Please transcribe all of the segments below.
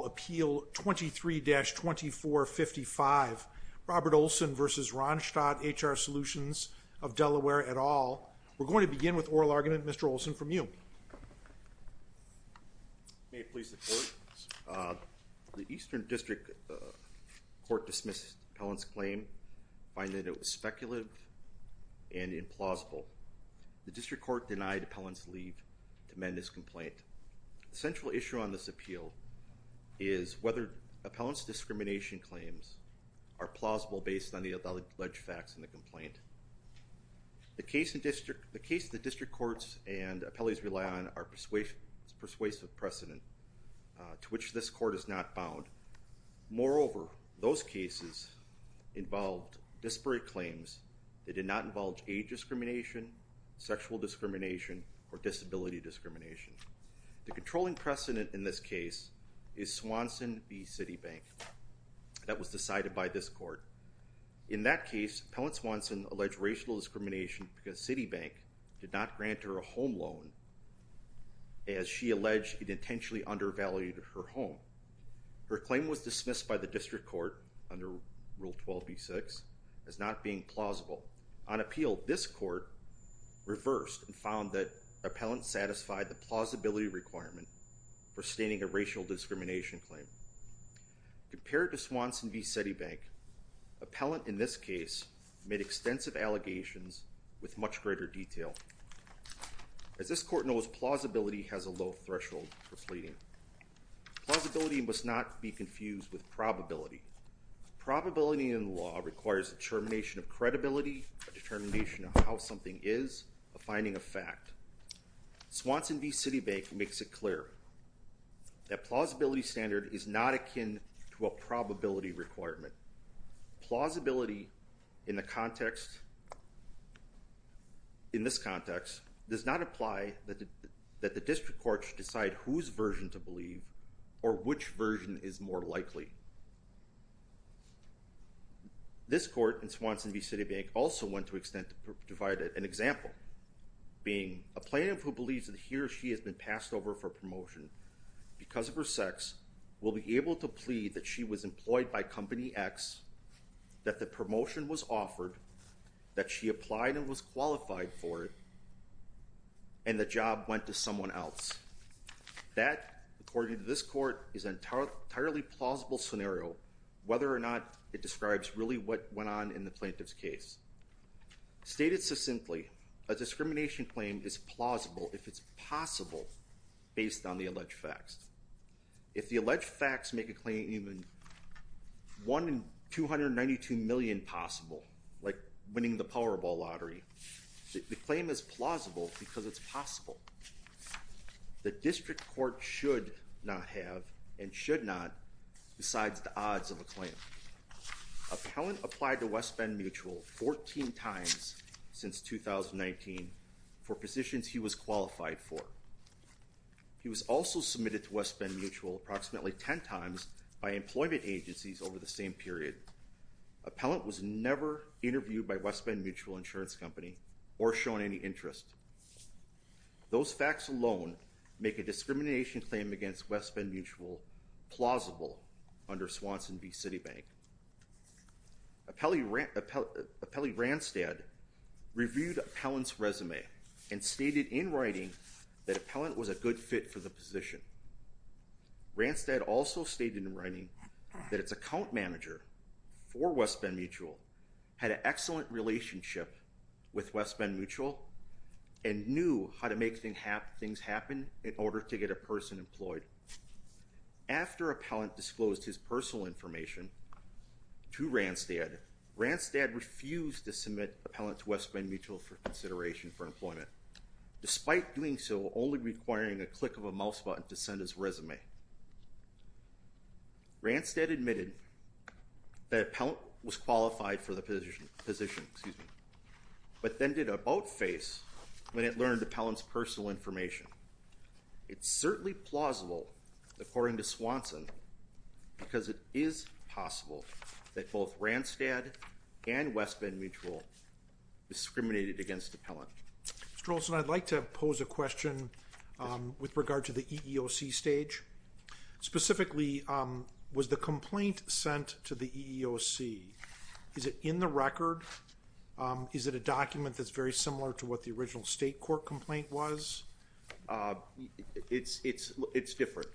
23-2455, Robert Olson v. Randstad HR Solutions of Delaware et al. We're going to begin with oral argument, Mr. Olson, from you. May it please the Court. The Eastern District Court dismissed Pellant's claim, finding that it was speculative and implausible. The District Court denied Pellant's leave to amend this complaint. The central issue on this appeal is whether Pellant's discrimination claims are plausible based on the alleged facts in the complaint. The case the District Courts and appellees rely on is persuasive precedent to which this Court is not bound. Moreover, those cases involved disparate claims that did not involve age discrimination, sexual discrimination, or disability discrimination. The controlling precedent in this case is Swanson v. Citibank that was decided by this Court. In that case, Pellant Swanson alleged racial discrimination because Citibank did not grant her a home loan as she alleged it intentionally undervalued her home. Her claim was dismissed by the District Court under Rule 12b-6 as not being plausible. On appeal, this Court reversed and found that Pellant satisfied the plausibility requirement for stating a racial discrimination claim. Compared to Swanson v. Citibank, Pellant in this case made extensive allegations with much greater detail. As this Court knows, plausibility has a low threshold for pleading. Plausibility must not be confused with probability. Probability in the law requires a determination of credibility, a determination of how something is, a finding of fact. Swanson v. Citibank makes it clear that a plausibility standard is not akin to a probability requirement. Plausibility in this context does not apply that the District Court should decide whose version to believe or which version is more likely. This Court in Swanson v. Citibank also went to extent to provide an example, being a plaintiff who believes that he or she has been passed over for promotion because of her sex will be able to plead that she was employed by Company X, that the promotion was offered, that she applied and was qualified for it, and the job went to someone else. That, according to this Court, is an entirely plausible scenario, whether or not it describes really what went on in the plaintiff's case. Stated succinctly, a discrimination claim is plausible if it's possible based on the alleged facts. If the alleged facts make a claim even 1 in 292 million possible, like winning the Powerball lottery, the claim is plausible because it's possible. The District Court should not have, and should not, besides the odds of a claim. Appellant applied to West Bend Mutual 14 times since 2019 for positions he was qualified for. He was also submitted to West Bend Mutual approximately 10 times by employment agencies over the same period. Appellant was never interviewed by West Bend Mutual Insurance Company or shown any interest. Those facts alone make a discrimination claim against West Bend Mutual plausible under Swanson v. Citibank. Appellee Randstad reviewed Appellant's resume and stated in writing that Appellant was a good fit for the position. Randstad also stated in writing that its account manager for West Bend Mutual had an excellent relationship with West Bend Mutual and knew how to make things happen in order to get a person employed. After Appellant disclosed his personal information to Randstad, Randstad refused to submit Appellant to West Bend Mutual for consideration for employment, despite doing so only requiring a click of a mouse button to send his resume. Randstad admitted that Appellant was qualified for the position, but then did a about-face when it learned Appellant's personal information. It's certainly plausible, according to Swanson, because it is possible that both Randstad and West Bend Mutual discriminated against Appellant. Mr. Olson, I'd like to pose a question with regard to the EEOC stage. Specifically, was the complaint sent to the EEOC? Is it in the record? Is it a document that's very similar to what the original state court complaint was? It's different.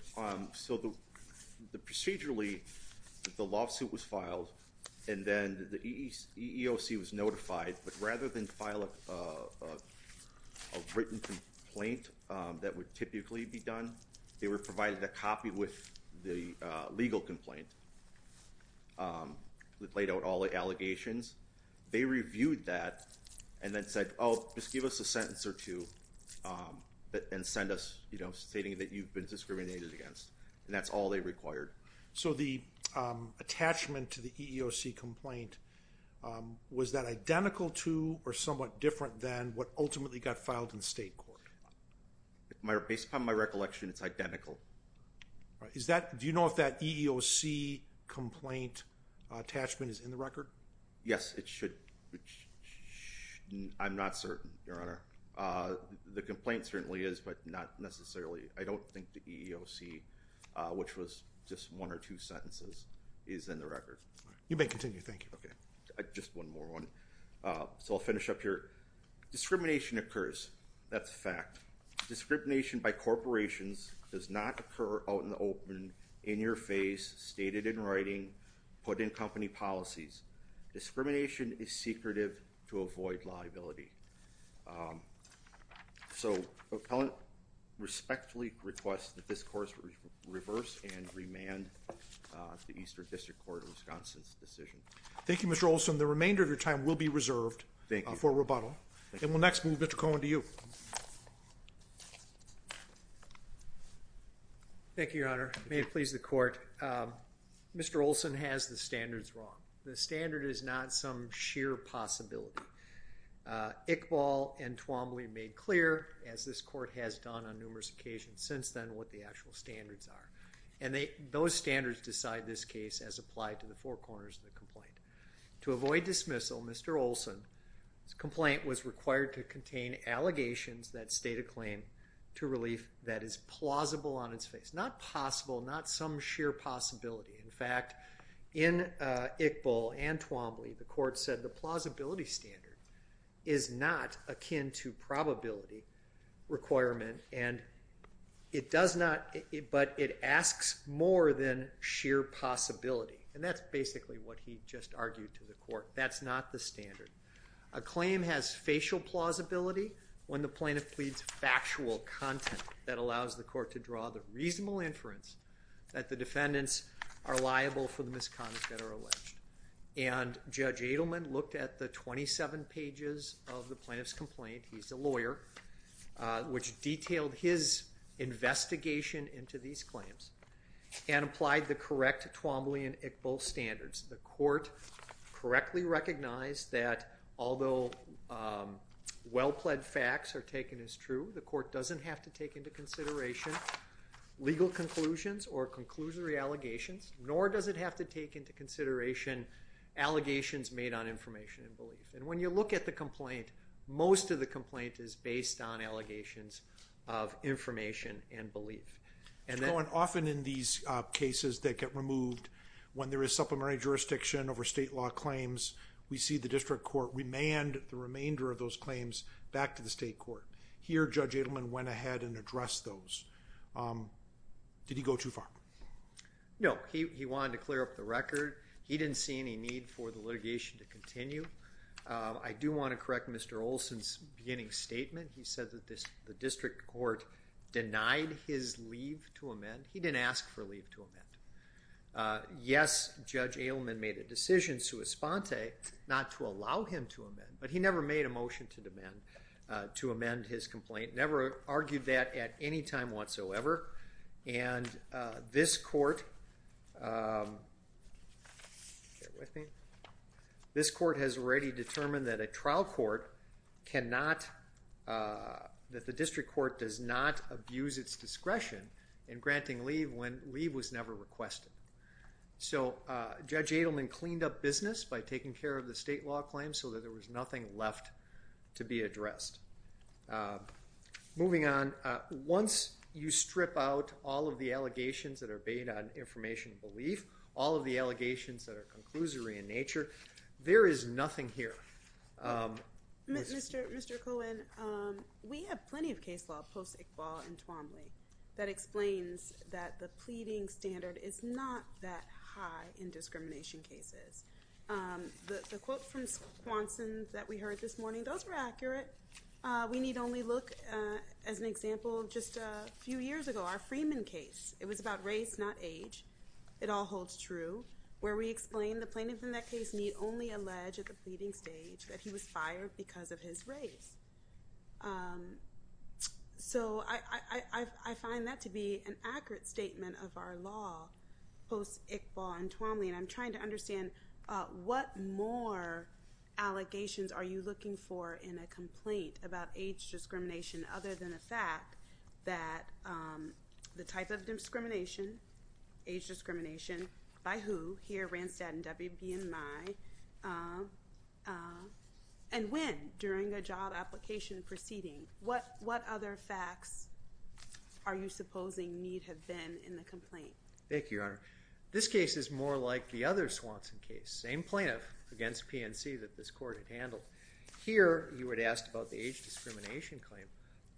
So procedurally, the lawsuit was filed, and then the EEOC was notified, but rather than file a written complaint that would typically be done, they were provided a copy with the legal complaint. It laid out all the allegations. They reviewed that and then said, oh, just give us a sentence or two and send us stating that you've been discriminated against, and that's all they required. So the attachment to the EEOC complaint, was that identical to or somewhat different than what ultimately got filed in the state court? Based upon my recollection, it's identical. Do you know if that EEOC complaint attachment is in the record? Yes, it should. I'm not certain, Your Honor. The complaint certainly is, but not necessarily. I don't think the EEOC, which was just one or two sentences, is in the record. You may continue. Thank you. Just one more one. So I'll finish up here. Discrimination occurs. That's a fact. Discrimination by corporations does not occur out in the open, in your face, stated in writing, put in company policies. Discrimination is secretive to avoid liability. So appellant respectfully requests that this course reverse and remand the Eastern District Court of Wisconsin's decision. Thank you, Mr. Olson. The remainder of your time will be reserved for rebuttal. And we'll next move Mr. Cohen to you. Thank you, Your Honor. May it please the court. Mr. Olson has the standards wrong. The standard is not some sheer possibility. Iqbal and Twombly made clear, as this court has done on numerous occasions since then, what the actual standards are. And those standards decide this case as applied to the four corners of the complaint. To avoid dismissal, Mr. Olson's complaint was required to contain allegations that state a claim to relief that is plausible on its face. Not possible, not some sheer possibility. In fact, in Iqbal and Twombly, the court said the plausibility standard is not akin to probability requirement, but it asks more than sheer possibility. And that's basically what he just argued to the court. That's not the standard. A claim has facial plausibility when the plaintiff pleads factual content that allows the court to draw the reasonable inference that the defendants are liable for the misconduct that are alleged. And Judge Adelman looked at the 27 pages of the plaintiff's complaint. He's a lawyer, which detailed his investigation into these claims and applied the correct Twombly and Iqbal standards. The court correctly recognized that although well-pled facts are taken as true, the court doesn't have to take into consideration legal conclusions or conclusory allegations, nor does it have to take into consideration allegations made on information and belief. And when you look at the complaint, most of the complaint is based on allegations of information and belief. Mr. Cohen, often in these cases that get removed, when there is supplementary jurisdiction over state law claims, we see the district court remand the remainder of those claims back to the state court. Here, Judge Adelman went ahead and addressed those. Did he go too far? No, he wanted to clear up the record. He didn't see any need for the litigation to continue. I do want to correct Mr. Olson's beginning statement. He said that the district court denied his leave to amend. He didn't ask for leave to amend. Yes, Judge Adelman made a decision sui sponte not to allow him to amend, but he never made a motion to amend his complaint, never argued that at any time whatsoever. And this court has already determined that a trial court cannot, that the district court does not abuse its discretion in granting leave when leave was never requested. So Judge Adelman cleaned up business by taking care of the state law claims so that there was nothing left to be addressed. Moving on, once you strip out all of the allegations that are based on information belief, all of the allegations that are conclusory in nature, there is nothing here. Mr. Cohen, we have plenty of case law post-Iqbal and Twombly that explains that the pleading standard is not that high in discrimination cases. The quote from Swanson that we heard this morning, those were accurate. We need only look, as an example, just a few years ago, our Freeman case. It was about race, not age. It all holds true. Where we explained the plaintiff in that case need only allege at the pleading stage that he was fired because of his race. So I find that to be an accurate statement of our law post-Iqbal and Twombly, and I'm trying to understand what more allegations are you looking for in a complaint about age discrimination other than the fact that the type of discrimination, age discrimination, by who, here, Randstad and WBMI, and when, during a job application proceeding. What other facts are you supposing need have been in the complaint? Thank you, Your Honor. This case is more like the other Swanson case. Same plaintiff against PNC that this court had handled. Here you had asked about the age discrimination claim.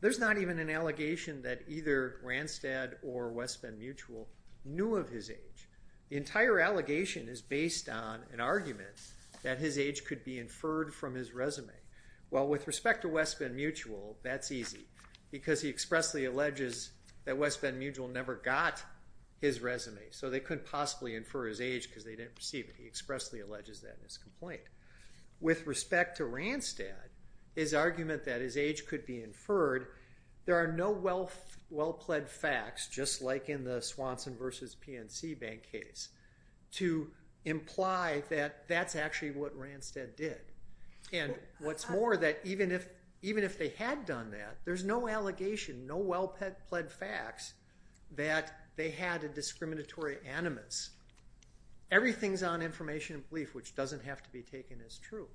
There's not even an allegation that either Randstad or WBMI knew of his age. The entire allegation is based on an argument that his age could be inferred from his resume. Well, with respect to WBMI, that's easy, because he expressly alleges that WBMI never got his resume, so they couldn't possibly infer his age because they didn't receive it. He expressly alleges that in his complaint. With respect to Randstad, his argument that his age could be inferred, there are no well-pled facts, just like in the Swanson v. PNC bank case, to imply that that's actually what Randstad did. And what's more, that even if they had done that, there's no allegation, no well-pled facts that they had a discriminatory animus. Everything's on information and belief, which doesn't have to be taken as true.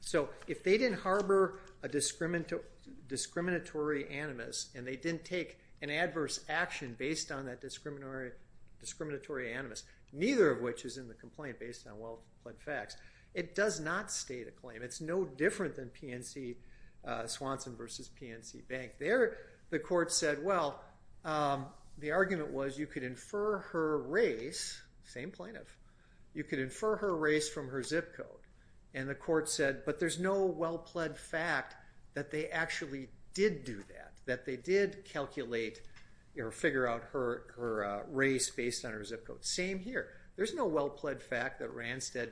So if they didn't harbor a discriminatory animus and they didn't take an adverse action based on that discriminatory animus, neither of which is in the complaint based on well-pled facts, it does not state a claim. It's no different than PNC Swanson v. PNC bank. There, the court said, well, the argument was you could infer her race. Same plaintiff. You could infer her race from her zip code. And the court said, but there's no well-pled fact that they actually did do that, that they did calculate or figure out her race based on her zip code. Same here. There's no well-pled fact that Randstad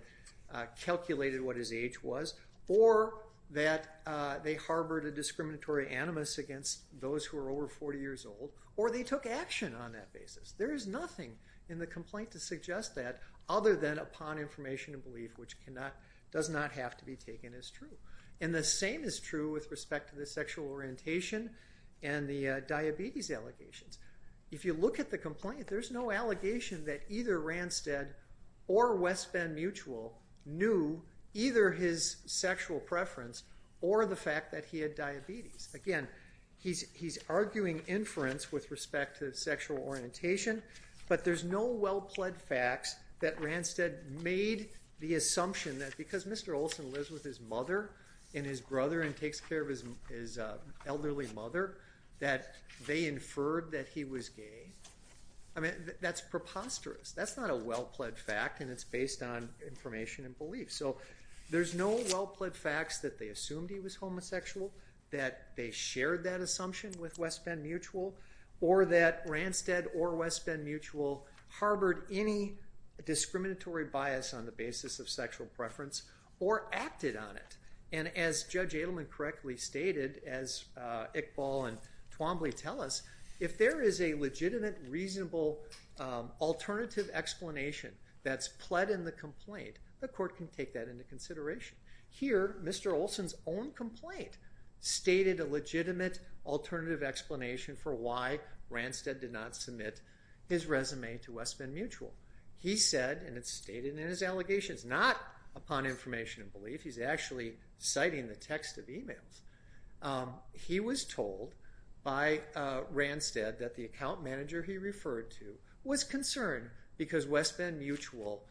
calculated what his age was or that they harbored a discriminatory animus against those who are over 40 years old or they took action on that basis. There is nothing in the complaint to suggest that other than upon information and belief, which does not have to be taken as true. And the same is true with respect to the sexual orientation and the diabetes allegations. If you look at the complaint, there's no allegation that either Randstad or West Bend Mutual knew either his sexual preference or the fact that he had diabetes. Again, he's arguing inference with respect to sexual orientation, but there's no well-pled facts that Randstad made the assumption that because Mr. Olson lives with his mother and his brother and takes care of his elderly mother that they inferred that he was gay. I mean, that's preposterous. That's not a well-pled fact, and it's based on information and belief. So there's no well-pled facts that they assumed he was homosexual, that they shared that assumption with West Bend Mutual, or that Randstad or West Bend Mutual harbored any discriminatory bias on the basis of sexual preference or acted on it. And as Judge Adelman correctly stated, as Iqbal and Twombly tell us, if there is a legitimate, reasonable alternative explanation that's pled in the complaint, the court can take that into consideration. Here, Mr. Olson's own complaint stated a legitimate alternative explanation for why Randstad did not submit his resume to West Bend Mutual. He said, and it's stated in his allegations, not upon information and belief. He's actually citing the text of emails. He was told by Randstad that the account manager he referred to was concerned because West Bend Mutual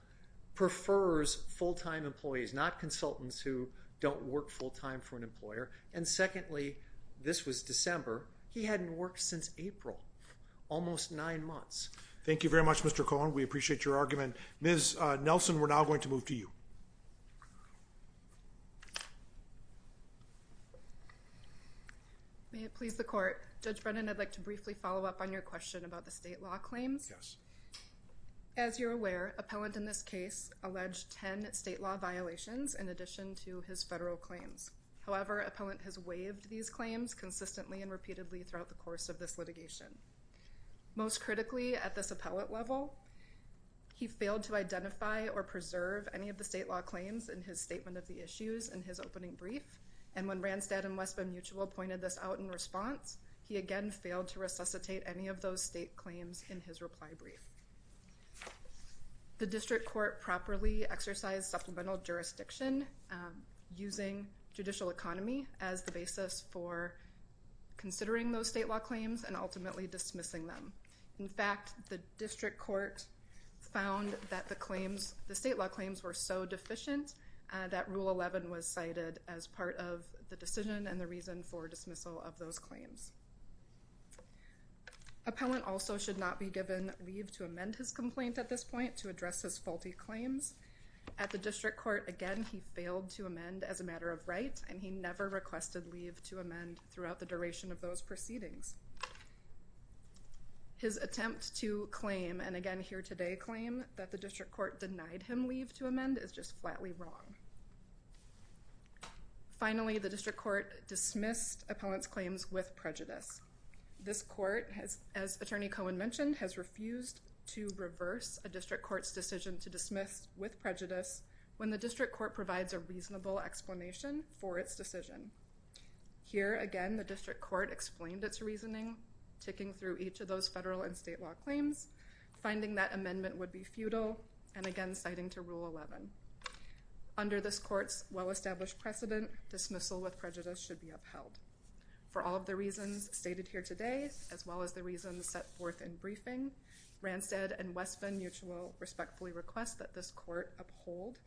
prefers full-time employees, not consultants who don't work full-time for an employer. And secondly, this was December. He hadn't worked since April, almost nine months. Thank you very much, Mr. Cohen. We appreciate your argument. And Ms. Nelson, we're now going to move to you. May it please the court, Judge Brennan, I'd like to briefly follow up on your question about the state law claims. Yes. As you're aware, appellant in this case alleged ten state law violations in addition to his federal claims. However, appellant has waived these claims consistently and repeatedly throughout the course of this litigation. Most critically at this appellate level, he failed to identify or preserve any of the state law claims in his statement of the issues in his opening brief. And when Randstad and West Bend Mutual pointed this out in response, he again failed to resuscitate any of those state claims in his reply brief. The district court properly exercised supplemental jurisdiction using judicial economy as the basis for considering those state law claims and ultimately dismissing them. In fact, the district court found that the state law claims were so deficient that Rule 11 was cited as part of the decision and the reason for dismissal of those claims. Appellant also should not be given leave to amend his complaint at this point to address his faulty claims. At the district court, again, he failed to amend as a matter of right, and he never requested leave to amend throughout the duration of those proceedings. His attempt to claim, and again here today claim, that the district court denied him leave to amend is just flatly wrong. Finally, the district court dismissed appellant's claims with prejudice. This court, as Attorney Cohen mentioned, has refused to reverse a district court's decision to dismiss with prejudice when the district court provides a reasonable explanation for its decision. Here, again, the district court explained its reasoning, ticking through each of those federal and state law claims, finding that amendment would be futile, and again citing to Rule 11. Under this court's well-established precedent, dismissal with prejudice should be upheld. For all of the reasons stated here today, as well as the reasons set forth in briefing, Ranstad and Westman Mutual respectfully request that this court uphold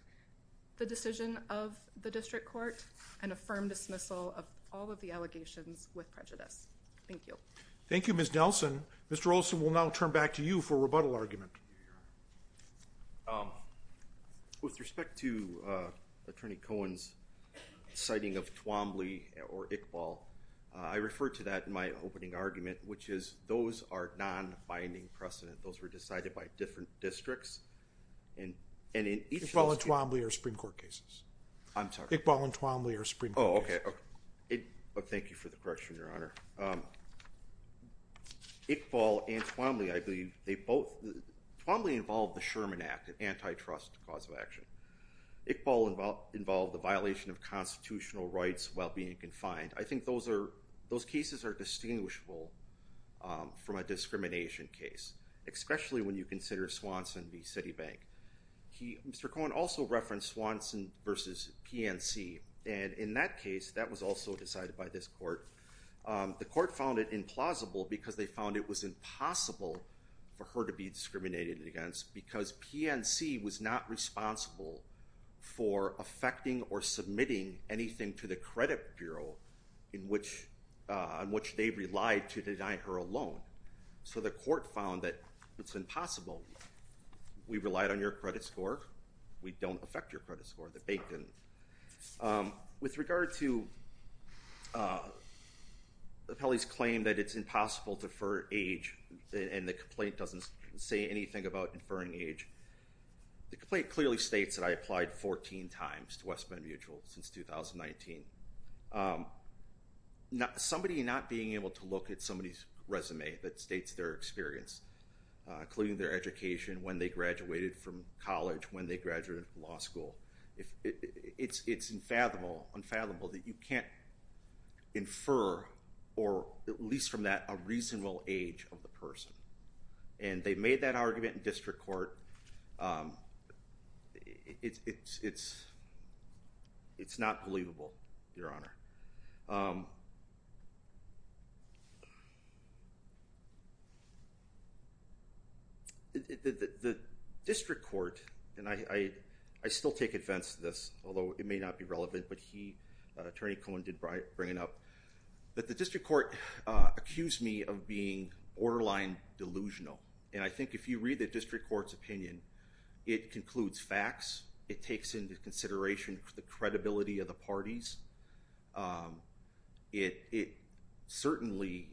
the decision of the district court and affirm dismissal of all of the allegations with prejudice. Thank you. Thank you, Ms. Nelson. Mr. Olson, we'll now turn back to you for a rebuttal argument. With respect to Attorney Cohen's citing of Twombly or Iqbal, I referred to that in my opening argument, which is those are non-binding precedent. Those were decided by different districts. Iqbal and Twombly are Supreme Court cases. I'm sorry? Iqbal and Twombly are Supreme Court cases. Oh, okay. Thank you for the correction, Your Honor. Iqbal and Twombly, I believe, they both – Twombly involved the Sherman Act, an antitrust cause of action. Iqbal involved the violation of constitutional rights while being confined. I think those cases are distinguishable from a discrimination case, especially when you consider Swanson v. Citibank. Mr. Cohen also referenced Swanson v. PNC, and in that case, that was also decided by this court. The court found it implausible because they found it was impossible for her to be discriminated against because PNC was not responsible for affecting or submitting anything to the credit bureau on which they relied to deny her a loan. So the court found that it's impossible. We relied on your credit score. We don't affect your credit score. The bank didn't. With regard to the appellee's claim that it's impossible to infer age and the complaint doesn't say anything about inferring age, the complaint clearly states that I applied 14 times to West Bend Mutual since 2019. Somebody not being able to look at somebody's resume that states their experience, including their education, when they graduated from college, when they graduated from law school, it's unfathomable that you can't infer, or at least from that, a reasonable age of the person. And they made that argument in district court. It's not believable, Your Honor. The district court, and I still take offense to this, although it may not be relevant, but Attorney Cohen did bring it up, that the district court accused me of being borderline delusional. And I think if you read the district court's opinion, it concludes facts. It takes into consideration the credibility of the parties. It certainly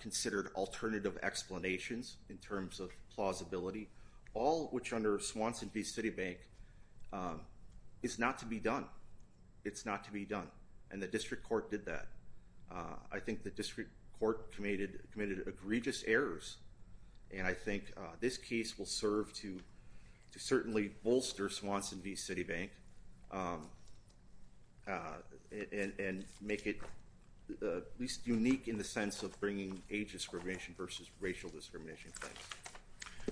considered alternative explanations in terms of plausibility, all which under Swanson v. Citibank is not to be done. It's not to be done. And the district court did that. I think the district court committed egregious errors, and I think this case will serve to certainly bolster Swanson v. Citibank and make it at least unique in the sense of bringing age discrimination versus racial discrimination.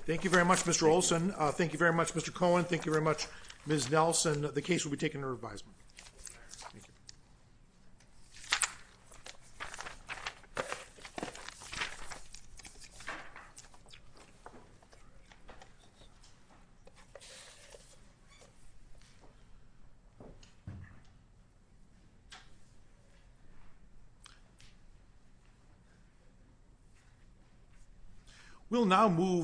Thank you very much, Mr. Olson. Thank you very much, Mr. Cohen. Thank you very much, Ms. Nelson. The case will be taken under revision. Thank you. Thank you.